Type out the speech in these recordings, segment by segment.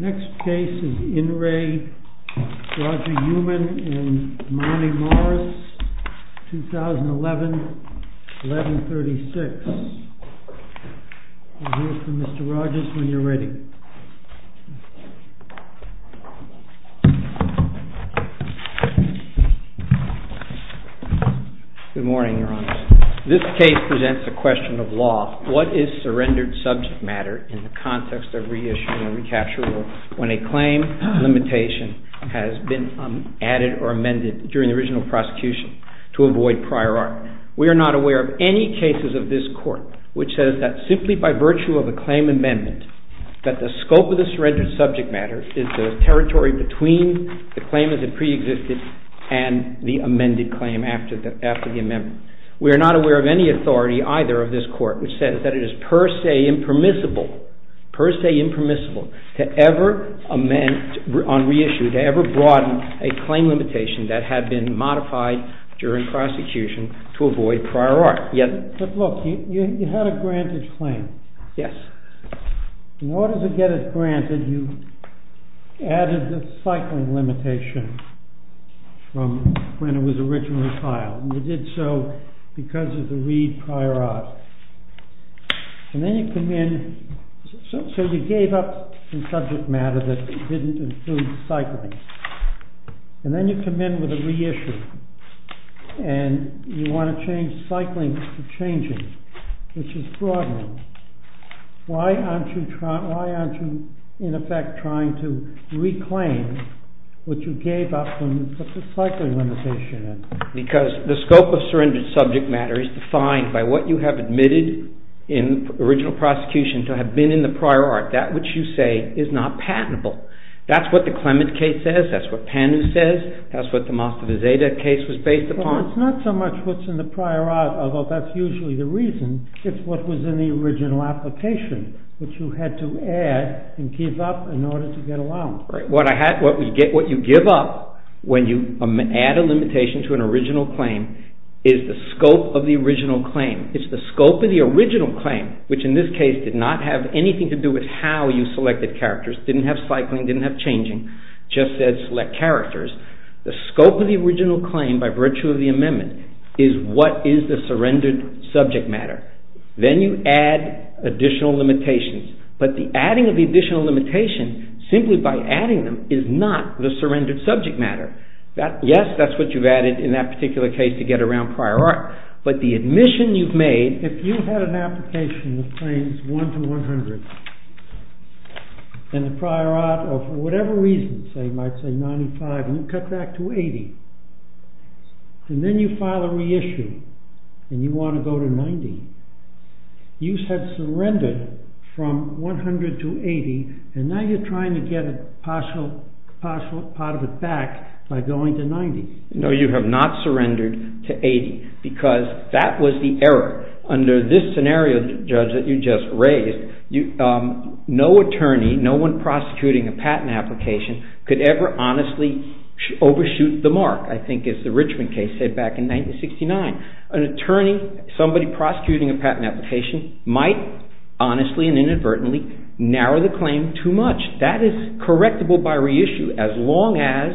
Next case is In Re Roger Youman and Marnie Morris, 2011-11-36. We'll hear from Mr. Rogers when you're ready. This case presents the question of law. What is surrendered subject matter in the context of re-issuing a recapture rule when a claim limitation has been added or amended during the original prosecution to avoid prior art? We are not aware of any cases of this court which says that simply by virtue of a claim amendment that the scope of the surrendered subject matter is the territory between the claim as it pre-existed and the amended claim after the amendment. We are not aware of any authority either of this court which says that it is per se impermissible to ever amend, on re-issue, to ever broaden a claim limitation that had been modified during prosecution to avoid prior art. But look, you had a granted claim. In order to get it granted, you added the cycling limitation from when it was originally filed. You did so because of the re-prior art. So you gave up the subject matter that didn't include cycling. And then you come in with a re-issue. And you want to change cycling to changing, which is broadening. Why aren't you, in effect, trying to reclaim what you gave up and put the cycling limitation in? Because the scope of surrendered subject matter is defined by what you have admitted in original prosecution to have been in the prior art. That which you say is not patentable. That's what the Clement case says. That's what Pannu says. That's what the Mastovizadeh case was based upon. No, it's not so much what's in the prior art, although that's usually the reason. It's what was in the original application, which you had to add and give up in order to get allowance. What you give up when you add a limitation to an original claim is the scope of the original claim. It's the scope of the original claim, which in this case did not have anything to do with how you selected characters, didn't have cycling, didn't have changing, just said select characters. The scope of the original claim, by virtue of the amendment, is what is the surrendered subject matter. Then you add additional limitations. But the adding of the additional limitation, simply by adding them, is not the surrendered subject matter. Yes, that's what you've added in that particular case to get around prior art. But the admission you've made, if you had an application that claims 1 to 100 in the prior art, or for whatever reason, say 95, and you cut back to 80, and then you file a reissue and you want to go to 90, you have surrendered from 100 to 80, and now you're trying to get a partial part of it back by going to 90. No, you have not surrendered to 80, because that was the error. Under this scenario, Judge, that you just raised, no attorney, no one prosecuting a patent application, could ever honestly overshoot the mark, I think, as the Richmond case said back in 1969. An attorney, somebody prosecuting a patent application, might honestly and inadvertently narrow the claim too much. That is correctable by reissue, as long as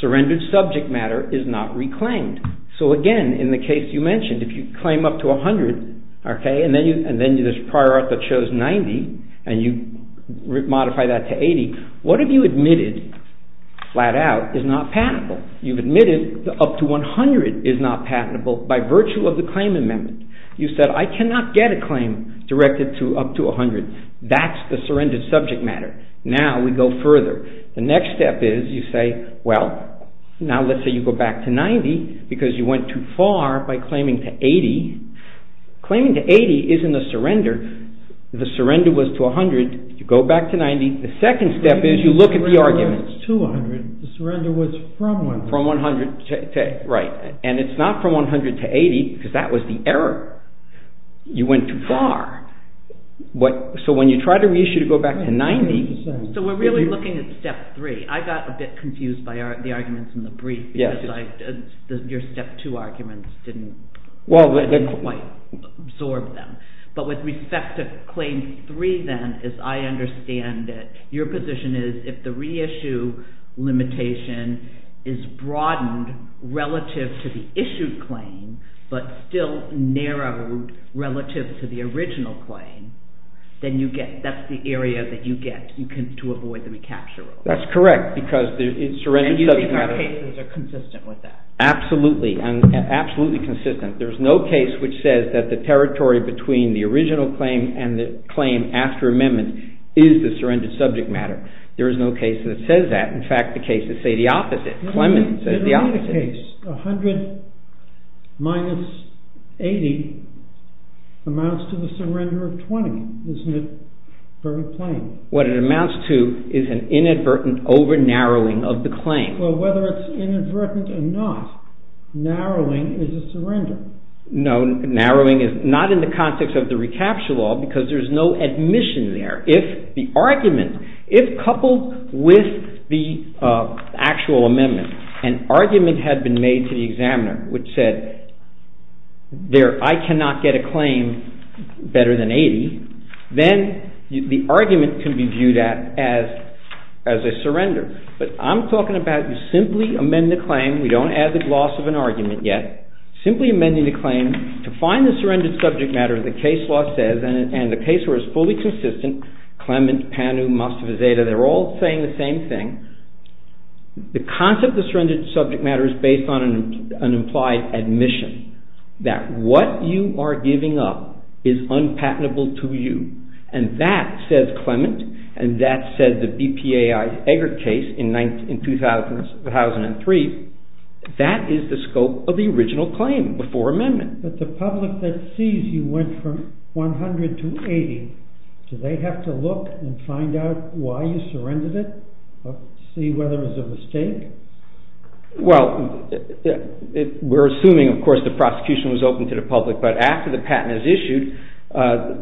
surrendered subject matter is not reclaimed. Again, in the case you mentioned, if you claim up to 100, and then there's prior art that shows 90, and you modify that to 80, what have you admitted, flat out, is not patentable? You've admitted that up to 100 is not patentable by virtue of the claim amendment. You said, I cannot get a claim directed to up to 100. That's the surrendered subject matter. Now, we go further. The next step is, you say, well, now let's say you go back to 90, because you went too far by claiming to 80. Claiming to 80 isn't a surrender. The surrender was to 100, you go back to 90. The second step is, you look at the argument. It's not from 100 to 80, because that was the error. You went too far. So, when you try to reissue to go back to 90. So, we're really looking at step three. I got a bit confused by the arguments in the brief, because your step two arguments didn't quite absorb them. But with respect to claim three, then, as I understand it, your position is, if the reissue limitation is broadened relative to the issued claim, but still narrowed relative to the original claim, then that's the area that you get. That's correct, because it's surrendered subject matter. Absolutely, and absolutely consistent. There's no case which says that the territory between the original claim and the claim after amendment is the surrendered subject matter. There is no case that says that. In fact, the cases say the opposite. Clement says the opposite. In this case, 100 minus 80 amounts to the surrender of 20. Isn't it very plain? What it amounts to is an inadvertent over-narrowing of the claim. Well, whether it's inadvertent or not, narrowing is a surrender. Narrowing is not in the context of the recapture law, because there's no admission there. If coupled with the actual amendment, an argument had been made to the examiner which said, I cannot get a claim better than 80, then the argument can be viewed as a surrender. But I'm talking about you simply amend the claim. We don't add the gloss of an argument yet. Simply amending the claim to find the surrendered subject matter, the case law says, and the case law is fully consistent. Clement, Panu, Mostefizadeh, they're all saying the same thing. The concept of surrendered subject matter is based on an implied admission that what you are giving up is unpatentable to you. And that, says Clement, and that said the BPAI Eggert case in 2003, that is the scope of the original claim before amendment. But the public that sees you went from 100 to 80, do they have to look and find out why you surrendered it? See whether it was a mistake? Well, we're assuming, of course, the prosecution was open to the public. But after the patent is issued,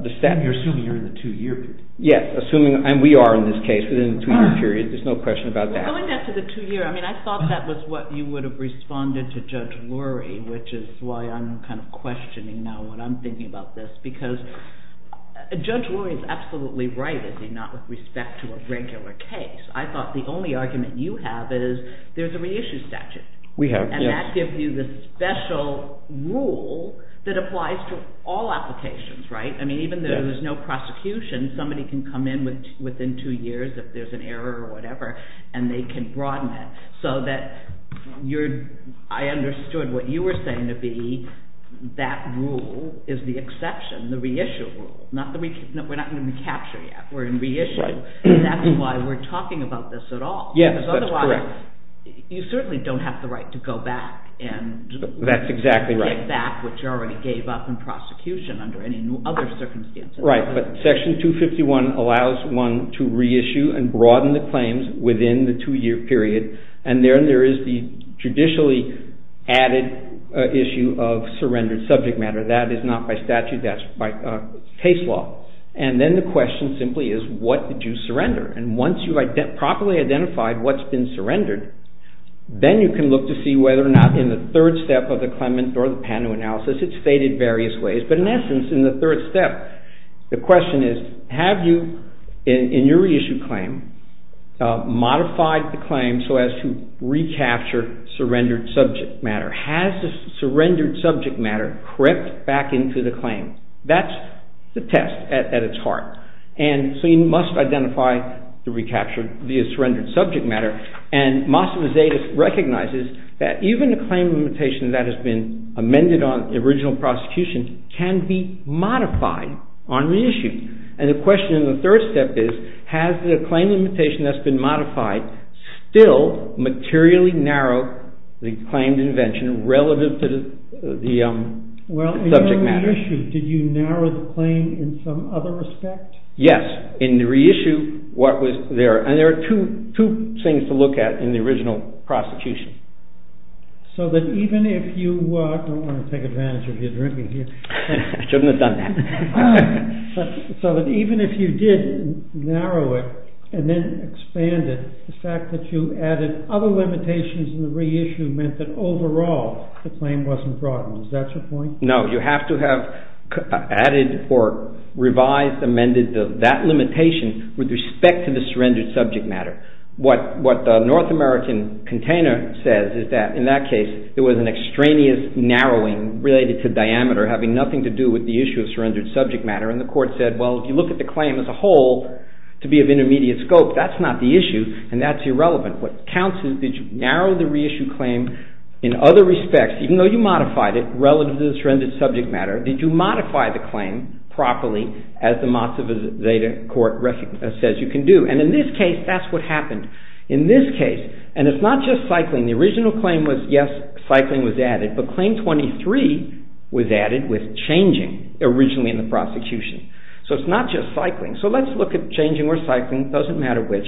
the statute… You're assuming you're in the two-year period. Yes, assuming, and we are in this case within the two-year period. There's no question about that. Well, going back to the two-year, I mean, I thought that was what you would have responded to Judge Lurie, which is why I'm kind of questioning now what I'm thinking about this. Because Judge Lurie is absolutely right, is he not, with respect to a regular case. I thought the only argument you have is there's a reissue statute. We have, yes. And that gives you the special rule that applies to all applications, right? I mean, even though there's no prosecution, somebody can come in within two years if there's an error or whatever, and they can broaden it. So that I understood what you were saying to be that rule is the exception, the reissue rule. We're not going to recapture yet. We're in reissue. That's why we're talking about this at all. Yes, that's correct. You certainly don't have the right to go back and get back what you already gave up in prosecution under any other circumstances. Right, but Section 251 allows one to reissue and broaden the claims within the two-year period, and there is the judicially added issue of surrendered subject matter. That is not by statute, that's by case law. And then the question simply is, what did you surrender? And once you've properly identified what's been surrendered, then you can look to see whether or not in the third step of the claimant or the patent analysis, it's stated various ways. But in essence, in the third step, the question is, have you, in your reissue claim, modified the claim so as to recapture surrendered subject matter? Has the surrendered subject matter crept back into the claim? That's the test at its heart. And so you must identify the recaptured via surrendered subject matter. And Massa Vizetis recognizes that even a claim limitation that has been amended on the original prosecution can be modified on reissue. And the question in the third step is, has the claim limitation that's been modified still materially narrowed the claimed invention relative to the subject matter? In the reissue, did you narrow the claim in some other respect? Yes. In the reissue, what was there? And there are two things to look at in the original prosecution. So that even if you, I don't want to take advantage of your drinking here. I shouldn't have done that. So that even if you did narrow it and then expand it, the fact that you added other limitations in the reissue meant that overall the claim wasn't broadened. Is that your point? No. You have to have added or revised, amended that limitation with respect to the surrendered subject matter. What the North American container says is that in that case it was an extraneous narrowing related to diameter having nothing to do with the issue of surrendered subject matter. And the court said, well, if you look at the claim as a whole, to be of intermediate scope, that's not the issue and that's irrelevant. What counts is did you narrow the reissue claim in other respects? Even though you modified it relative to the surrendered subject matter, did you modify the claim properly as the Mazda Zeta Court says you can do? And in this case, that's what happened. In this case, and it's not just cycling. The original claim was yes, cycling was added. But Claim 23 was added with changing originally in the prosecution. So it's not just cycling. So let's look at changing or cycling. It doesn't matter which.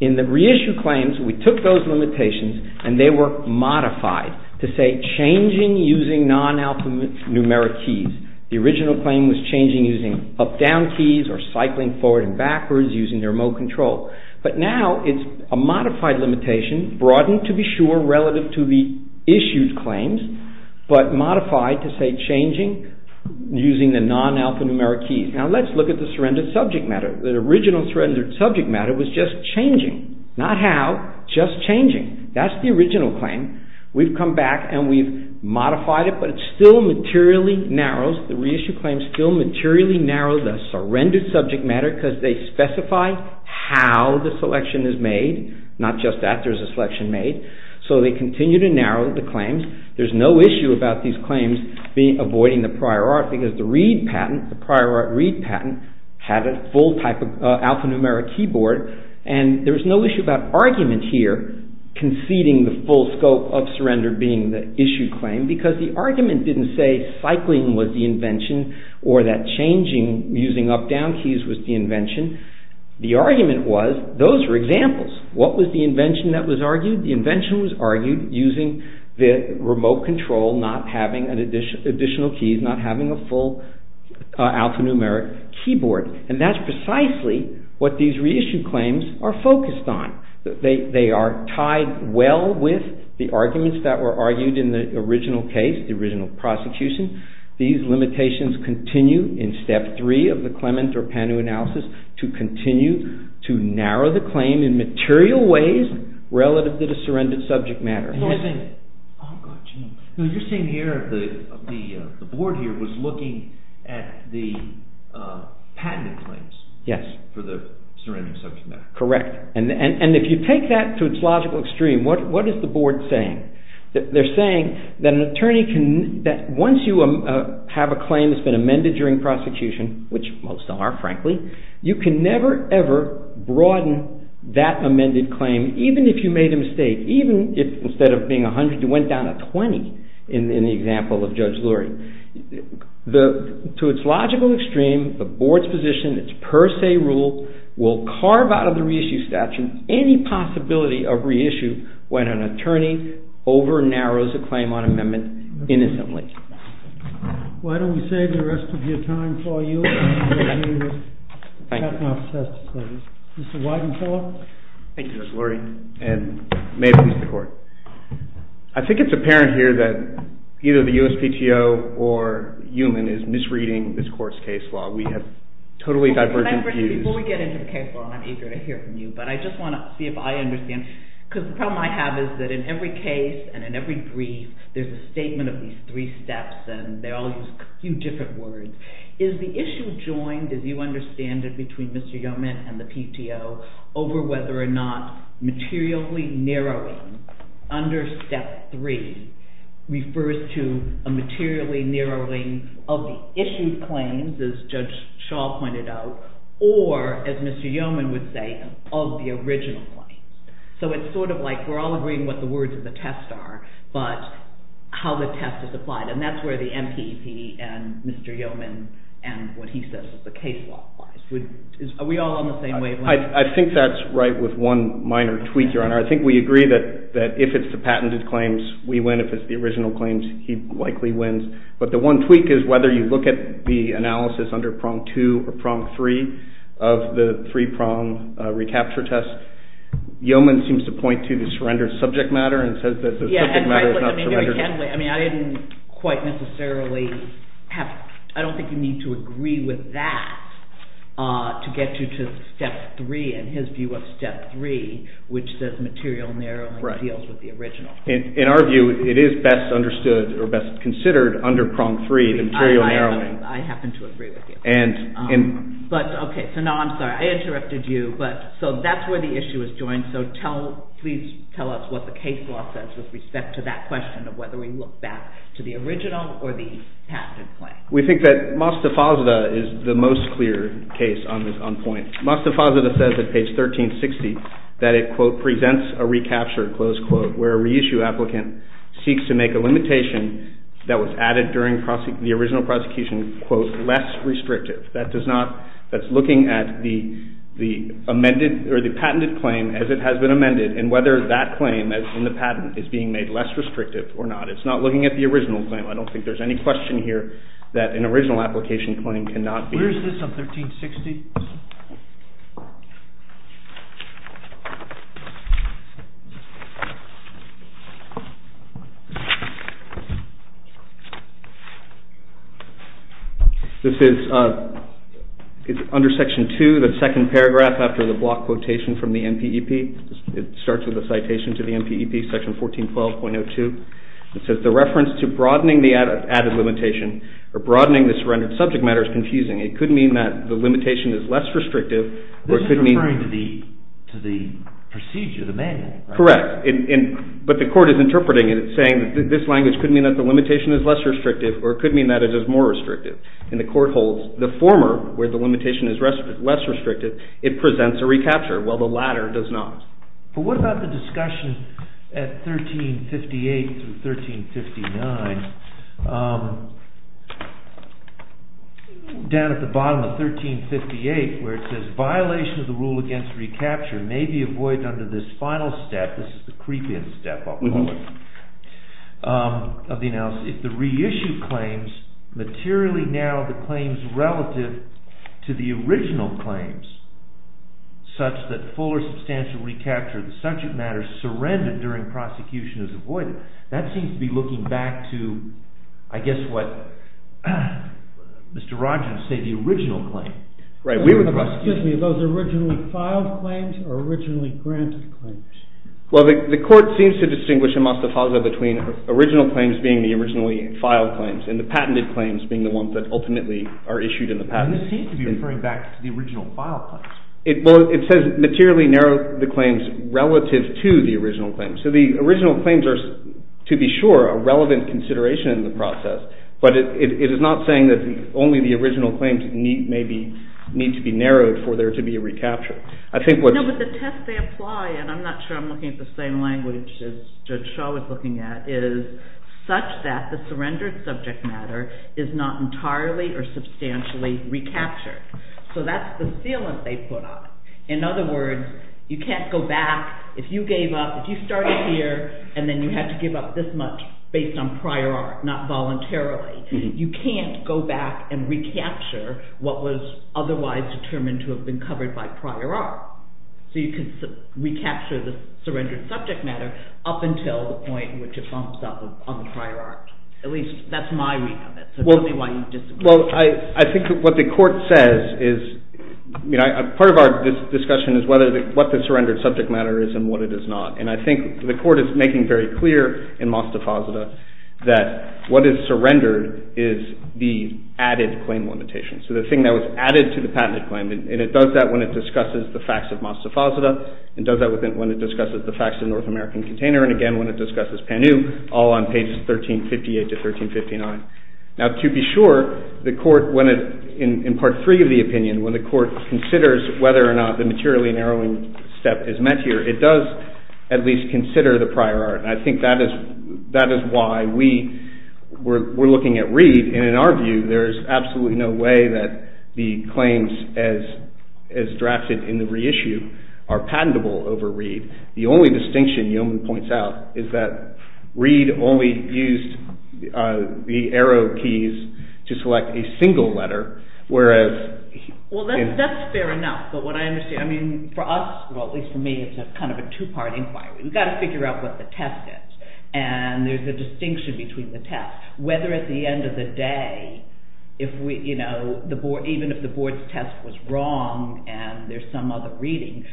In the reissue claims, we took those limitations and they were modified to say changing using non-alphanumeric keys. The original claim was changing using up-down keys or cycling forward and backwards using remote control. But now it's a modified limitation, broadened to be sure relative to the issued claims, but modified to say changing using the non-alphanumeric keys. Now let's look at the surrendered subject matter. The original surrendered subject matter was just changing. Not how, just changing. That's the original claim. We've come back and we've modified it, but it still materially narrows. The reissue claims still materially narrow the surrendered subject matter because they specify how the selection is made. Not just that there's a selection made. So they continue to narrow the claims. There's no issue about these claims avoiding the prior art because the read patent, the prior art read patent, had a full type of alphanumeric keyboard. And there's no issue about argument here conceding the full scope of surrender being the issued claim because the argument didn't say cycling was the invention or that changing using up-down keys was the invention. The argument was those were examples. The invention was argued using the remote control, not having additional keys, not having a full alphanumeric keyboard. And that's precisely what these reissue claims are focused on. They are tied well with the arguments that were argued in the original case, the original prosecution. These limitations continue in step three of the Clement or Pannu analysis to continue to narrow the claim in material ways relative to the surrendered subject matter. You're saying here the board here was looking at the patented claims for the surrendered subject matter. Correct. And if you take that to its logical extreme, what is the board saying? They're saying that once you have a claim that's been amended during prosecution, which most are frankly, you can never ever broaden that amended claim even if you made a mistake, even if instead of being 100 you went down to 20 in the example of Judge Lurie. To its logical extreme, the board's position, its per se rule will carve out of the reissue statute any possibility of reissue when an attorney over-narrows a claim on amendment innocently. Why don't we save the rest of your time for you? I think it's apparent here that either the USPTO or Heumann is misreading this court's case law. We have totally divergent views. Before we get into the case law, I'm eager to hear from you, but I just want to see if I understand. Because the problem I have is that in every case and in every brief, there's a statement of these three steps, and they all use a few different words. Is the issue joined, as you understand it, between Mr. Yeoman and the PTO over whether or not materially narrowing under step three refers to a materially narrowing of the issued claims, as Judge Shaw pointed out, or as Mr. Yeoman would say, of the original claims? So it's sort of like we're all agreeing what the words of the test are, but how the test is applied. And that's where the MPP and Mr. Yeoman and what he says is the case law applies. Are we all on the same wavelength? I think that's right with one minor tweak, Your Honor. I think we agree that if it's the patented claims, we win. If it's the original claims, he likely wins. But the one tweak is whether you look at the analysis under prong two or prong three of the three-prong recapture test. Yeoman seems to point to the surrendered subject matter and says that the subject matter is not surrendered. I mean, I didn't quite necessarily have – I don't think you need to agree with that to get you to step three, in his view of step three, which says material narrowing deals with the original. In our view, it is best understood or best considered under prong three, the material narrowing. I happen to agree with you. But, okay, so now I'm sorry. I interrupted you. So that's where the issue is joined. So please tell us what the case law says with respect to that question of whether we look back to the original or the patented claim. We think that Mostafazadeh is the most clear case on point. Mostafazadeh says at page 1360 that it, quote, presents a recapture, close quote, where a reissue applicant seeks to make a limitation that was added during the original prosecution, quote, less restrictive. That does not – that's looking at the amended or the patented claim as it has been amended and whether that claim in the patent is being made less restrictive or not. It's not looking at the original claim. I don't think there's any question here that an original application claim cannot be. This is under section two, the second paragraph after the block quotation from the NPEP. It starts with a citation to the NPEP, section 1412.02. It says the reference to broadening the added limitation or broadening the surrendered subject matter is confusing. It could mean that the limitation is less restrictive or it could mean – This is referring to the procedure, the manual. Correct. But the court is interpreting it. It's saying that this language could mean that the limitation is less restrictive or it could mean that it is more restrictive. And the court holds the former, where the limitation is less restrictive, it presents a recapture, while the latter does not. But what about the discussion at 1358 through 1359, down at the bottom of 1358, where it says violation of the rule against recapture may be avoided under this final step. This is the creep-in step of the analysis. If the reissued claims materially narrow the claims relative to the original claims, such that full or substantial recapture of the subject matter surrendered during prosecution is avoided, that seems to be looking back to, I guess, what Mr. Rodgers said, the original claim. Right. We were – Excuse me. Are those originally filed claims or originally granted claims? Well, the court seems to distinguish in Mostafasa between original claims being the originally filed claims and the patented claims being the ones that ultimately are issued in the patent. This seems to be referring back to the original filed claims. Well, it says materially narrow the claims relative to the original claims. So the original claims are, to be sure, a relevant consideration in the process, but it is not saying that only the original claims need to be narrowed for there to be a recapture. I think what – In other words, you can't go back. If you gave up, if you started here and then you had to give up this much based on prior art, not voluntarily, you can't go back and recapture what was otherwise determined to have been covered by prior art. So you can recapture the surrendered subject matter up until the point which it bumps up on the prior art. At least that's my read of it. So tell me why you disagree. Well, I think what the court says is – part of our discussion is what the surrendered subject matter is and what it is not. And I think the court is making very clear in Mostafasa that what is surrendered is the added claim limitation. So the thing that was added to the patented claim, and it does that when it discusses the facts of Mostafasa. It does that when it discusses the facts of North American Container, and again when it discusses Panu, all on pages 1358 to 1359. Now, to be sure, the court, in part three of the opinion, when the court considers whether or not the materially narrowing step is met here, it does at least consider the prior art. And I think that is why we're looking at Reed. And in our view, there is absolutely no way that the claims as drafted in the reissue are patentable over Reed. The only distinction Yeoman points out is that Reed only used the arrow keys to select a single letter, whereas – Well, that's fair enough. But what I understand – I mean, for us, at least for me, it's kind of a two-part inquiry. We've got to figure out what the test is, and there's a distinction between the test. Whether at the end of the day, even if the board's test was wrong and there's some other reading,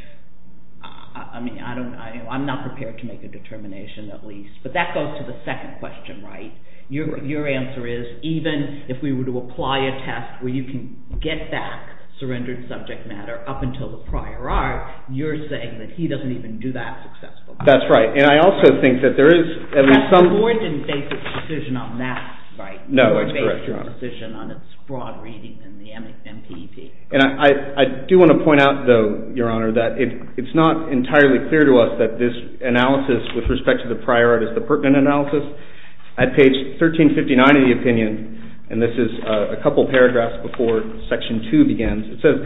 I mean, I'm not prepared to make a determination at least. But that goes to the second question, right? Your answer is even if we were to apply a test where you can get back surrendered subject matter up until the prior art, you're saying that he doesn't even do that successfully. That's right. And I also think that there is at least some – The board didn't make its decision on that, right? No, that's correct, Your Honor. The board made its decision on its broad reading in the MPP. And I do want to point out, though, Your Honor, that it's not entirely clear to us that this analysis with respect to the prior art is the pertinent analysis. At page 1359 of the opinion, and this is a couple paragraphs before Section 2 begins, it says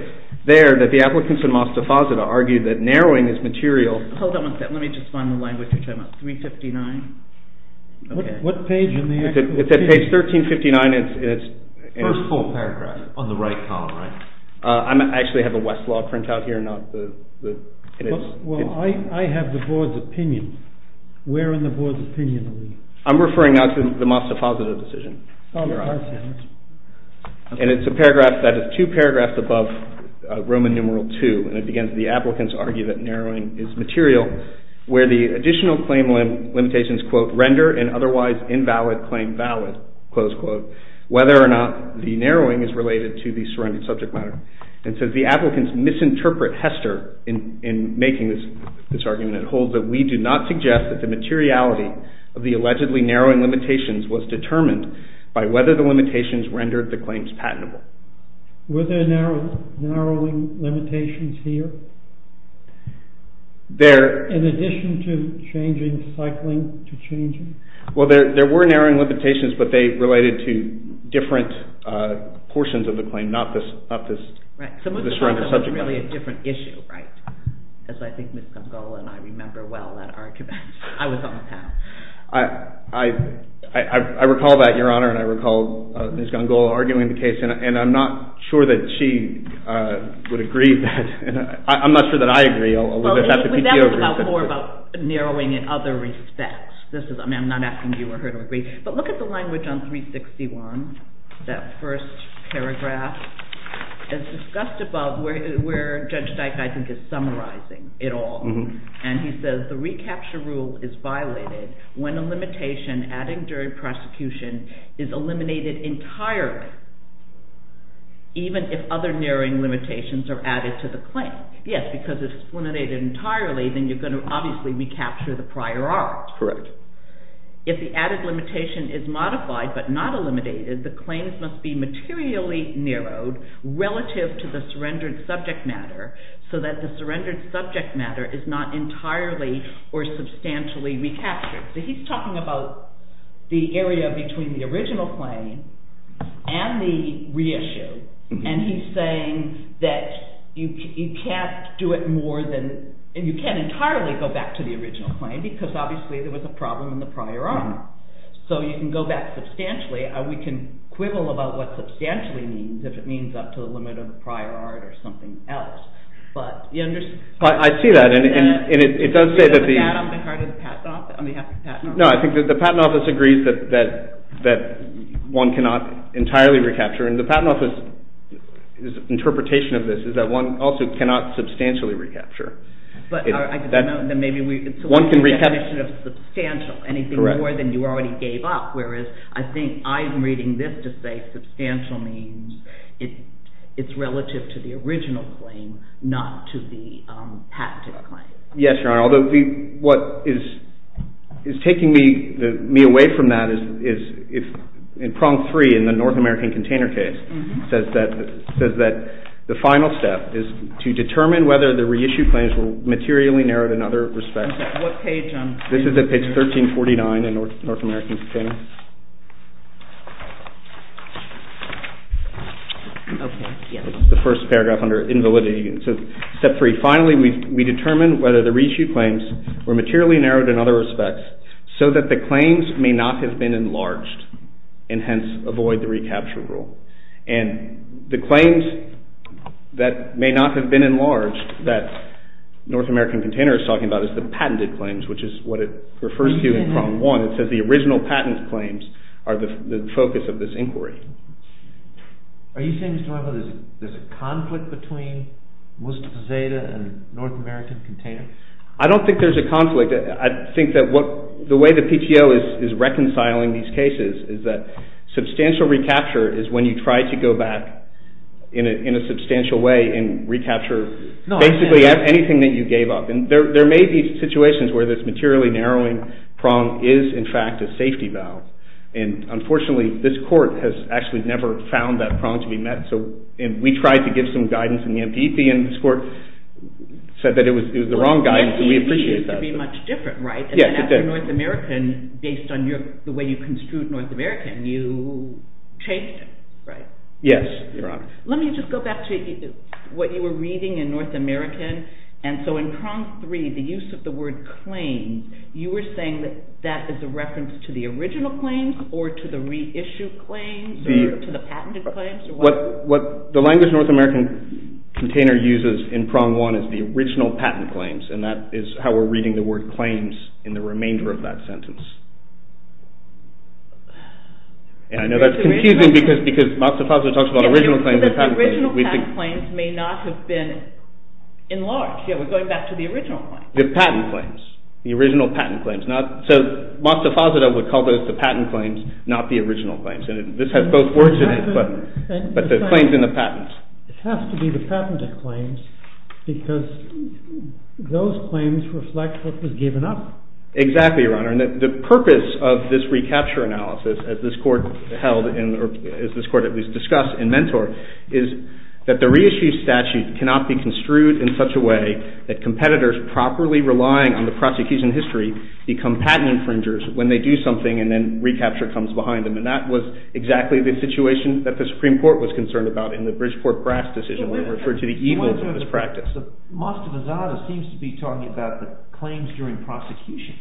there that the applicants in Moss Deposita argue that narrowing is material – Hold on one second. Let me just find the language we're talking about. 359? What page in the – It's at page 1359 and it's – First full paragraph on the right column, right? I actually have a Westlaw printout here, not the – Well, I have the board's opinion. Where in the board's opinion are we? I'm referring now to the Moss Deposita decision. Oh, I see. And it's a paragraph that is two paragraphs above Roman numeral 2. And it begins, the applicants argue that narrowing is material where the additional claim limitations, quote, render an otherwise invalid claim valid, close quote, whether or not the narrowing is related to the surrounding subject matter. And it says the applicants misinterpret Hester in making this argument. It holds that we do not suggest that the materiality of the allegedly narrowing limitations was determined by whether the limitations rendered the claims patentable. Were there narrowing limitations here? There – In addition to changing cycling to changing? Well, there were narrowing limitations, but they related to different portions of the claim, not this – Right. The surrounding subject matter. It was really a different issue, right? As I think Ms. Gongola and I remember well that argument. I was on the panel. I recall that, Your Honor, and I recall Ms. Gongola arguing the case, and I'm not sure that she would agree. I'm not sure that I agree. Well, that was about more about narrowing in other respects. This is – I mean, I'm not asking you or her to agree. But look at the language on 361, that first paragraph. It's discussed above where Judge Dyke, I think, is summarizing it all. And he says the recapture rule is violated when a limitation adding during prosecution is eliminated entirely, even if other narrowing limitations are added to the claim. Yes, because if it's eliminated entirely, then you're going to obviously recapture the prior art. Correct. So if the added limitation is modified but not eliminated, the claims must be materially narrowed relative to the surrendered subject matter so that the surrendered subject matter is not entirely or substantially recaptured. He's talking about the area between the original claim and the reissue. And he's saying that you can't do it more than – you can't entirely go back to the original claim because obviously there was a problem in the prior art. So you can go back substantially. We can quibble about what substantially means if it means up to the limit of the prior art or something else. I see that. And it does say that the – Is that on behalf of the Patent Office? No, I think the Patent Office agrees that one cannot entirely recapture. And the Patent Office's interpretation of this is that one also cannot substantially recapture. One can recapture – It's a limitation of substantial, anything more than you already gave up, whereas I think I'm reading this to say substantial means it's relative to the original claim, not to the haptic claim. Yes, Your Honor. Although what is taking me away from that is if – in prong three in the North American container case says that the final step is to determine whether the reissue claims were materially narrowed in other respects. What page on – This is at page 1349 in North American container. The first paragraph under invalidity. So step three, finally we determine whether the reissue claims were materially narrowed in other respects so that the claims may not have been enlarged and hence avoid the recapture rule. And the claims that may not have been enlarged that North American container is talking about is the patented claims, which is what it refers to in prong one. It says the original patent claims are the focus of this inquiry. Are you saying, Mr. Weber, there's a conflict between Mustafa Zeyda and North American container? I don't think there's a conflict. I think that what – the way the PTO is reconciling these cases is that substantial recapture is when you try to go back in a substantial way and recapture basically anything that you gave up. And there may be situations where this materially narrowing prong is in fact a safety valve. And unfortunately this court has actually never found that prong to be met. And we tried to give some guidance in the MPP and this court said that it was the wrong guidance and we appreciate that. MPP used to be much different, right? Yes, it did. And then after North American, based on the way you construed North American, you changed it, right? Yes, Your Honor. Let me just go back to what you were reading in North American. And so in prong three, the use of the word claims, you were saying that that is a reference to the original claims or to the reissued claims or to the patented claims? What the language North American container uses in prong one is the original patent claims and that is how we're reading the word claims in the remainder of that sentence. And I know that's confusing because Mastafazadeh talks about original claims and patent claims. The original patent claims may not have been enlarged. Yeah, we're going back to the original claims. The patent claims. The original patent claims. So Mastafazadeh would call those the patent claims, not the original claims. And this has both words in it, but the claims and the patents. It has to be the patented claims because those claims reflect what was given up. Exactly, Your Honor. And the purpose of this recapture analysis, as this court held in or as this court at least discussed in Mentor, is that the reissued statute cannot be construed in such a way that competitors properly relying on the prosecution history become patent infringers when they do something and then recapture comes behind them. And that was exactly the situation that the Supreme Court was concerned about in the Bridgeport-Grass decision that referred to the evil of this practice. Mastafazadeh seems to be talking about the claims during prosecution.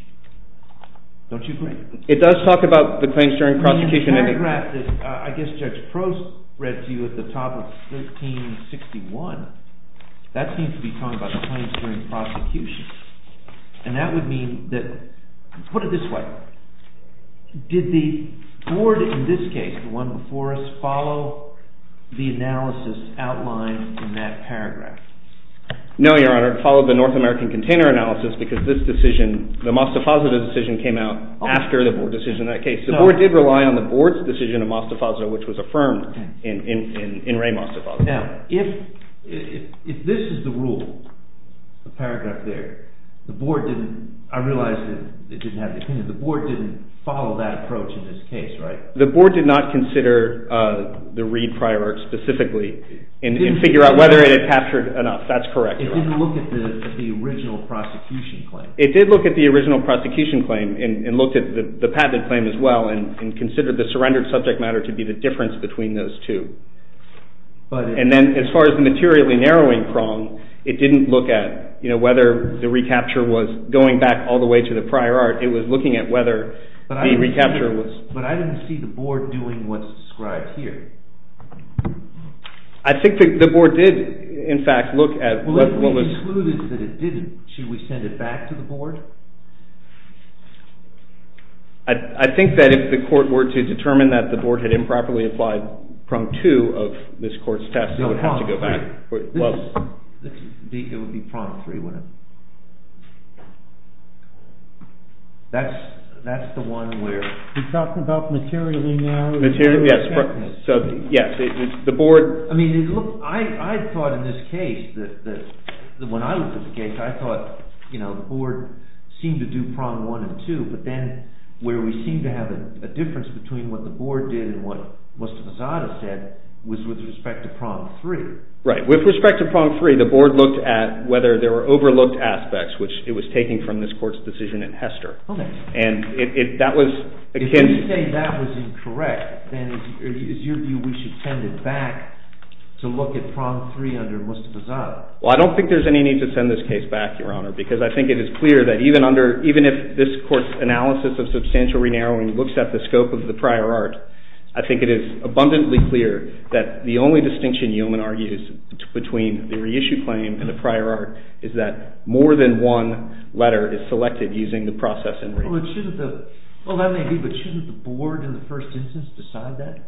Don't you agree? It does talk about the claims during prosecution. In the paragraph that I guess Judge Prost read to you at the top of 1361, that seems to be talking about the claims during prosecution. And that would mean that – put it this way. Did the board in this case, the one before us, follow the analysis outlined in that paragraph? No, Your Honor. It followed the North American container analysis because this decision, the Mastafazadeh decision came out after the board decision in that case. The board did rely on the board's decision of Mastafazadeh which was affirmed in Ray Mastafazadeh. Now, if this is the rule, the paragraph there, the board didn't – I realize it didn't have the opinion. The board didn't follow that approach in this case, right? The board did not consider the Reid prior art specifically and figure out whether it had captured enough. That's correct, Your Honor. It didn't look at the original prosecution claim. It did look at the original prosecution claim and looked at the patented claim as well and considered the surrendered subject matter to be the difference between those two. And then as far as the materially narrowing prong, it didn't look at whether the recapture was going back all the way to the prior art. It was looking at whether the recapture was – But I didn't see the board doing what's described here. I think the board did, in fact, look at what was – Well, if we concluded that it didn't, should we send it back to the board? I think that if the court were to determine that the board had improperly applied prong two of this court's test, it would have to go back. No, prong three. It would be prong three, wouldn't it? That's the one where – You're talking about materially narrowing? Materially, yes. So, yes, the board – I mean, I thought in this case that – when I looked at the case, I thought the board seemed to do prong one and two. But then where we seemed to have a difference between what the board did and what Mustafazadeh said was with respect to prong three. Right. With respect to prong three, the board looked at whether there were overlooked aspects, which it was taking from this court's decision in Hester. Okay. And that was akin – If you say that was incorrect, then is your view we should send it back to look at prong three under Mustafazadeh? Well, I don't think there's any need to send this case back, Your Honor, because I think it is clear that even under – even if this court's analysis of substantial re-narrowing looks at the scope of the prior art, I think it is abundantly clear that the only distinction Yeoman argues between the reissue claim and the prior art is that more than one letter is selected using the process in re-narrowing. Well, it shouldn't – well, that may be, but shouldn't the board in the first instance decide that?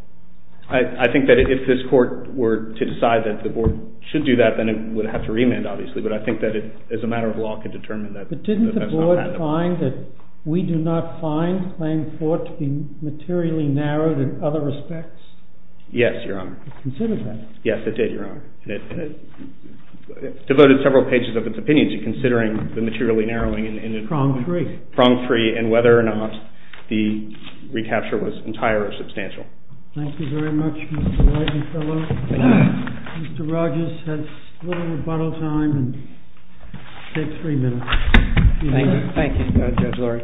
I think that if this court were to decide that the board should do that, then it would have to remand, obviously. But I think that it, as a matter of law, can determine that. But didn't the board find that we do not find the claim fought to be materially narrowed in other respects? Yes, Your Honor. It considered that? Yes, it did, Your Honor. And it devoted several pages of its opinion to considering the materially narrowing in – Prong three. Prong three, and whether or not the recapture was entire or substantial. Thank you very much, Mr. Lightenfellow. Thank you. Mr. Rogers has a little rebuttal time and takes three minutes. Thank you. Thank you, Judge Lurie.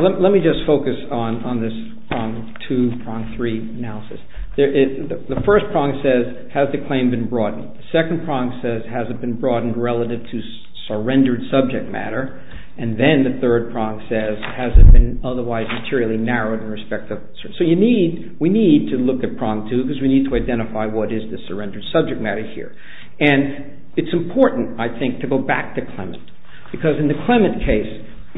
Let me just focus on this prong two, prong three analysis. The first prong says, has the claim been broadened? The second prong says, has it been broadened relative to surrendered subject matter? And then the third prong says, has it been otherwise materially narrowed in respect of – So you need – we need to look at prong two because we need to identify what is the surrendered subject matter here. And it's important, I think, to go back to Clement. Because in the Clement case,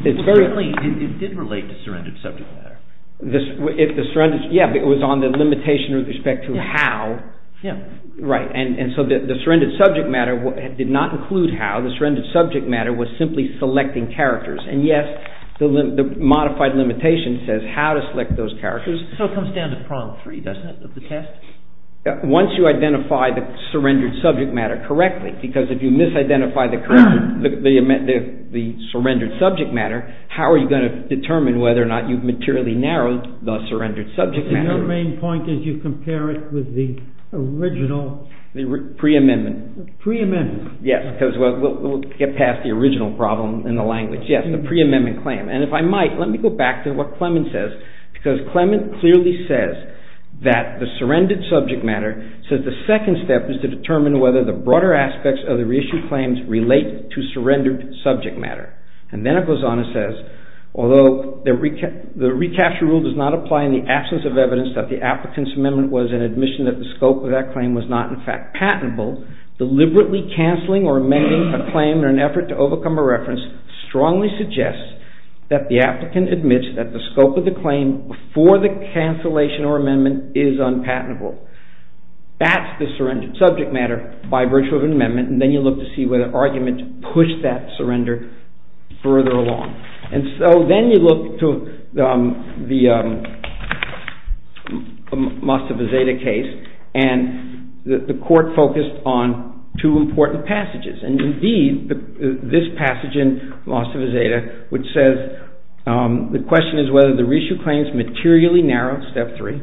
it's very – It did relate to surrendered subject matter. If the surrendered – yeah, but it was on the limitation with respect to how. Yeah. Right. And so the surrendered subject matter did not include how. The surrendered subject matter was simply selecting characters. And, yes, the modified limitation says how to select those characters. So it comes down to prong three, doesn't it, of the test? Once you identify the surrendered subject matter correctly, because if you misidentify the surrendered subject matter, how are you going to determine whether or not you've materially narrowed the surrendered subject matter? Your main point is you compare it with the original – The preamendment. Preamendment. Yes, because we'll get past the original problem in the language. Yes, the preamendment claim. And if I might, let me go back to what Clement says, because Clement clearly says that the surrendered subject matter says the second step is to determine whether the broader aspects of the reissued claims relate to surrendered subject matter. And then it goes on and says, although the recapture rule does not apply in the absence of evidence that the applicant's amendment was an admission that the scope of that claim was not, in fact, patentable, deliberately canceling or amending a claim in an effort to overcome a reference strongly suggests that the applicant admits that the scope of the claim before the cancellation or amendment is unpatentable. That's the surrendered subject matter by virtue of an amendment, and then you look to see whether the argument pushed that surrender further along. And so then you look to the Mastiff-Azeda case, and the court focused on two important passages. And indeed, this passage in Mastiff-Azeda, which says, the question is whether the reissued claims materially narrow, step three,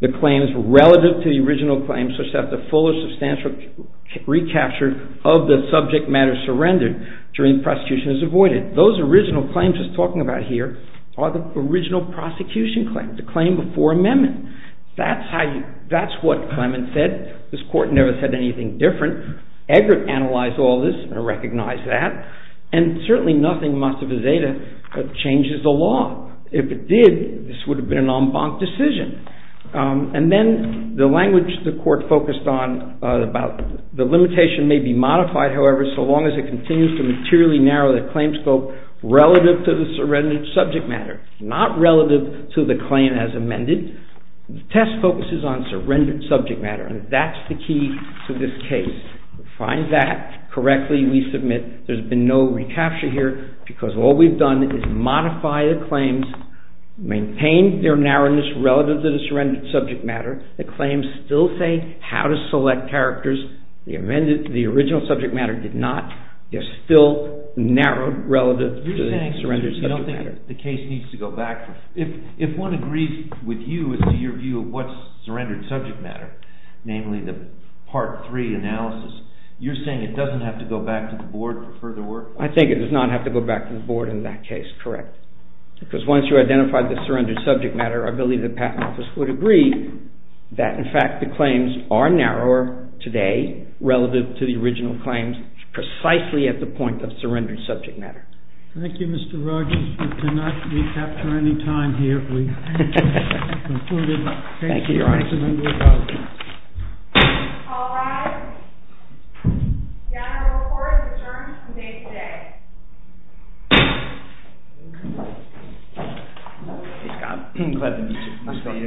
the claims relative to the original claims such that the full or substantial recapture of the subject matter surrendered during prosecution is avoided. Those original claims it's talking about here are the original prosecution claim, the claim before amendment. That's what Clement said. This court never said anything different. Eggert analyzed all this and recognized that. And certainly nothing in Mastiff-Azeda changes the law. If it did, this would have been an en banc decision. And then the language the court focused on about the limitation may be modified, however, so long as it continues to materially narrow the claim scope relative to the surrendered subject matter, not relative to the claim as amended. The test focuses on surrendered subject matter, and that's the key to this case. To find that correctly, we submit there's been no recapture here, because all we've done is modify the claims, maintain their narrowness relative to the surrendered subject matter. The claims still say how to select characters. The original subject matter did not. They're still narrowed relative to the surrendered subject matter. You're saying you don't think the case needs to go back. If one agrees with you as to your view of what's surrendered subject matter, namely the Part 3 analysis, you're saying it doesn't have to go back to the board for further work? I think it does not have to go back to the board in that case, correct. Because once you identify the surrendered subject matter, I believe the Patent Office would agree that, in fact, the claims are narrower today relative to the original claims precisely at the point of surrendered subject matter. Thank you, Mr. Rogers. We cannot recapture any time here. We have concluded. Thank you, Your Honor. Thank you, Mr. Member of the House. All rise. The Honorable Court is adjourned today. Thank you, Your Honor.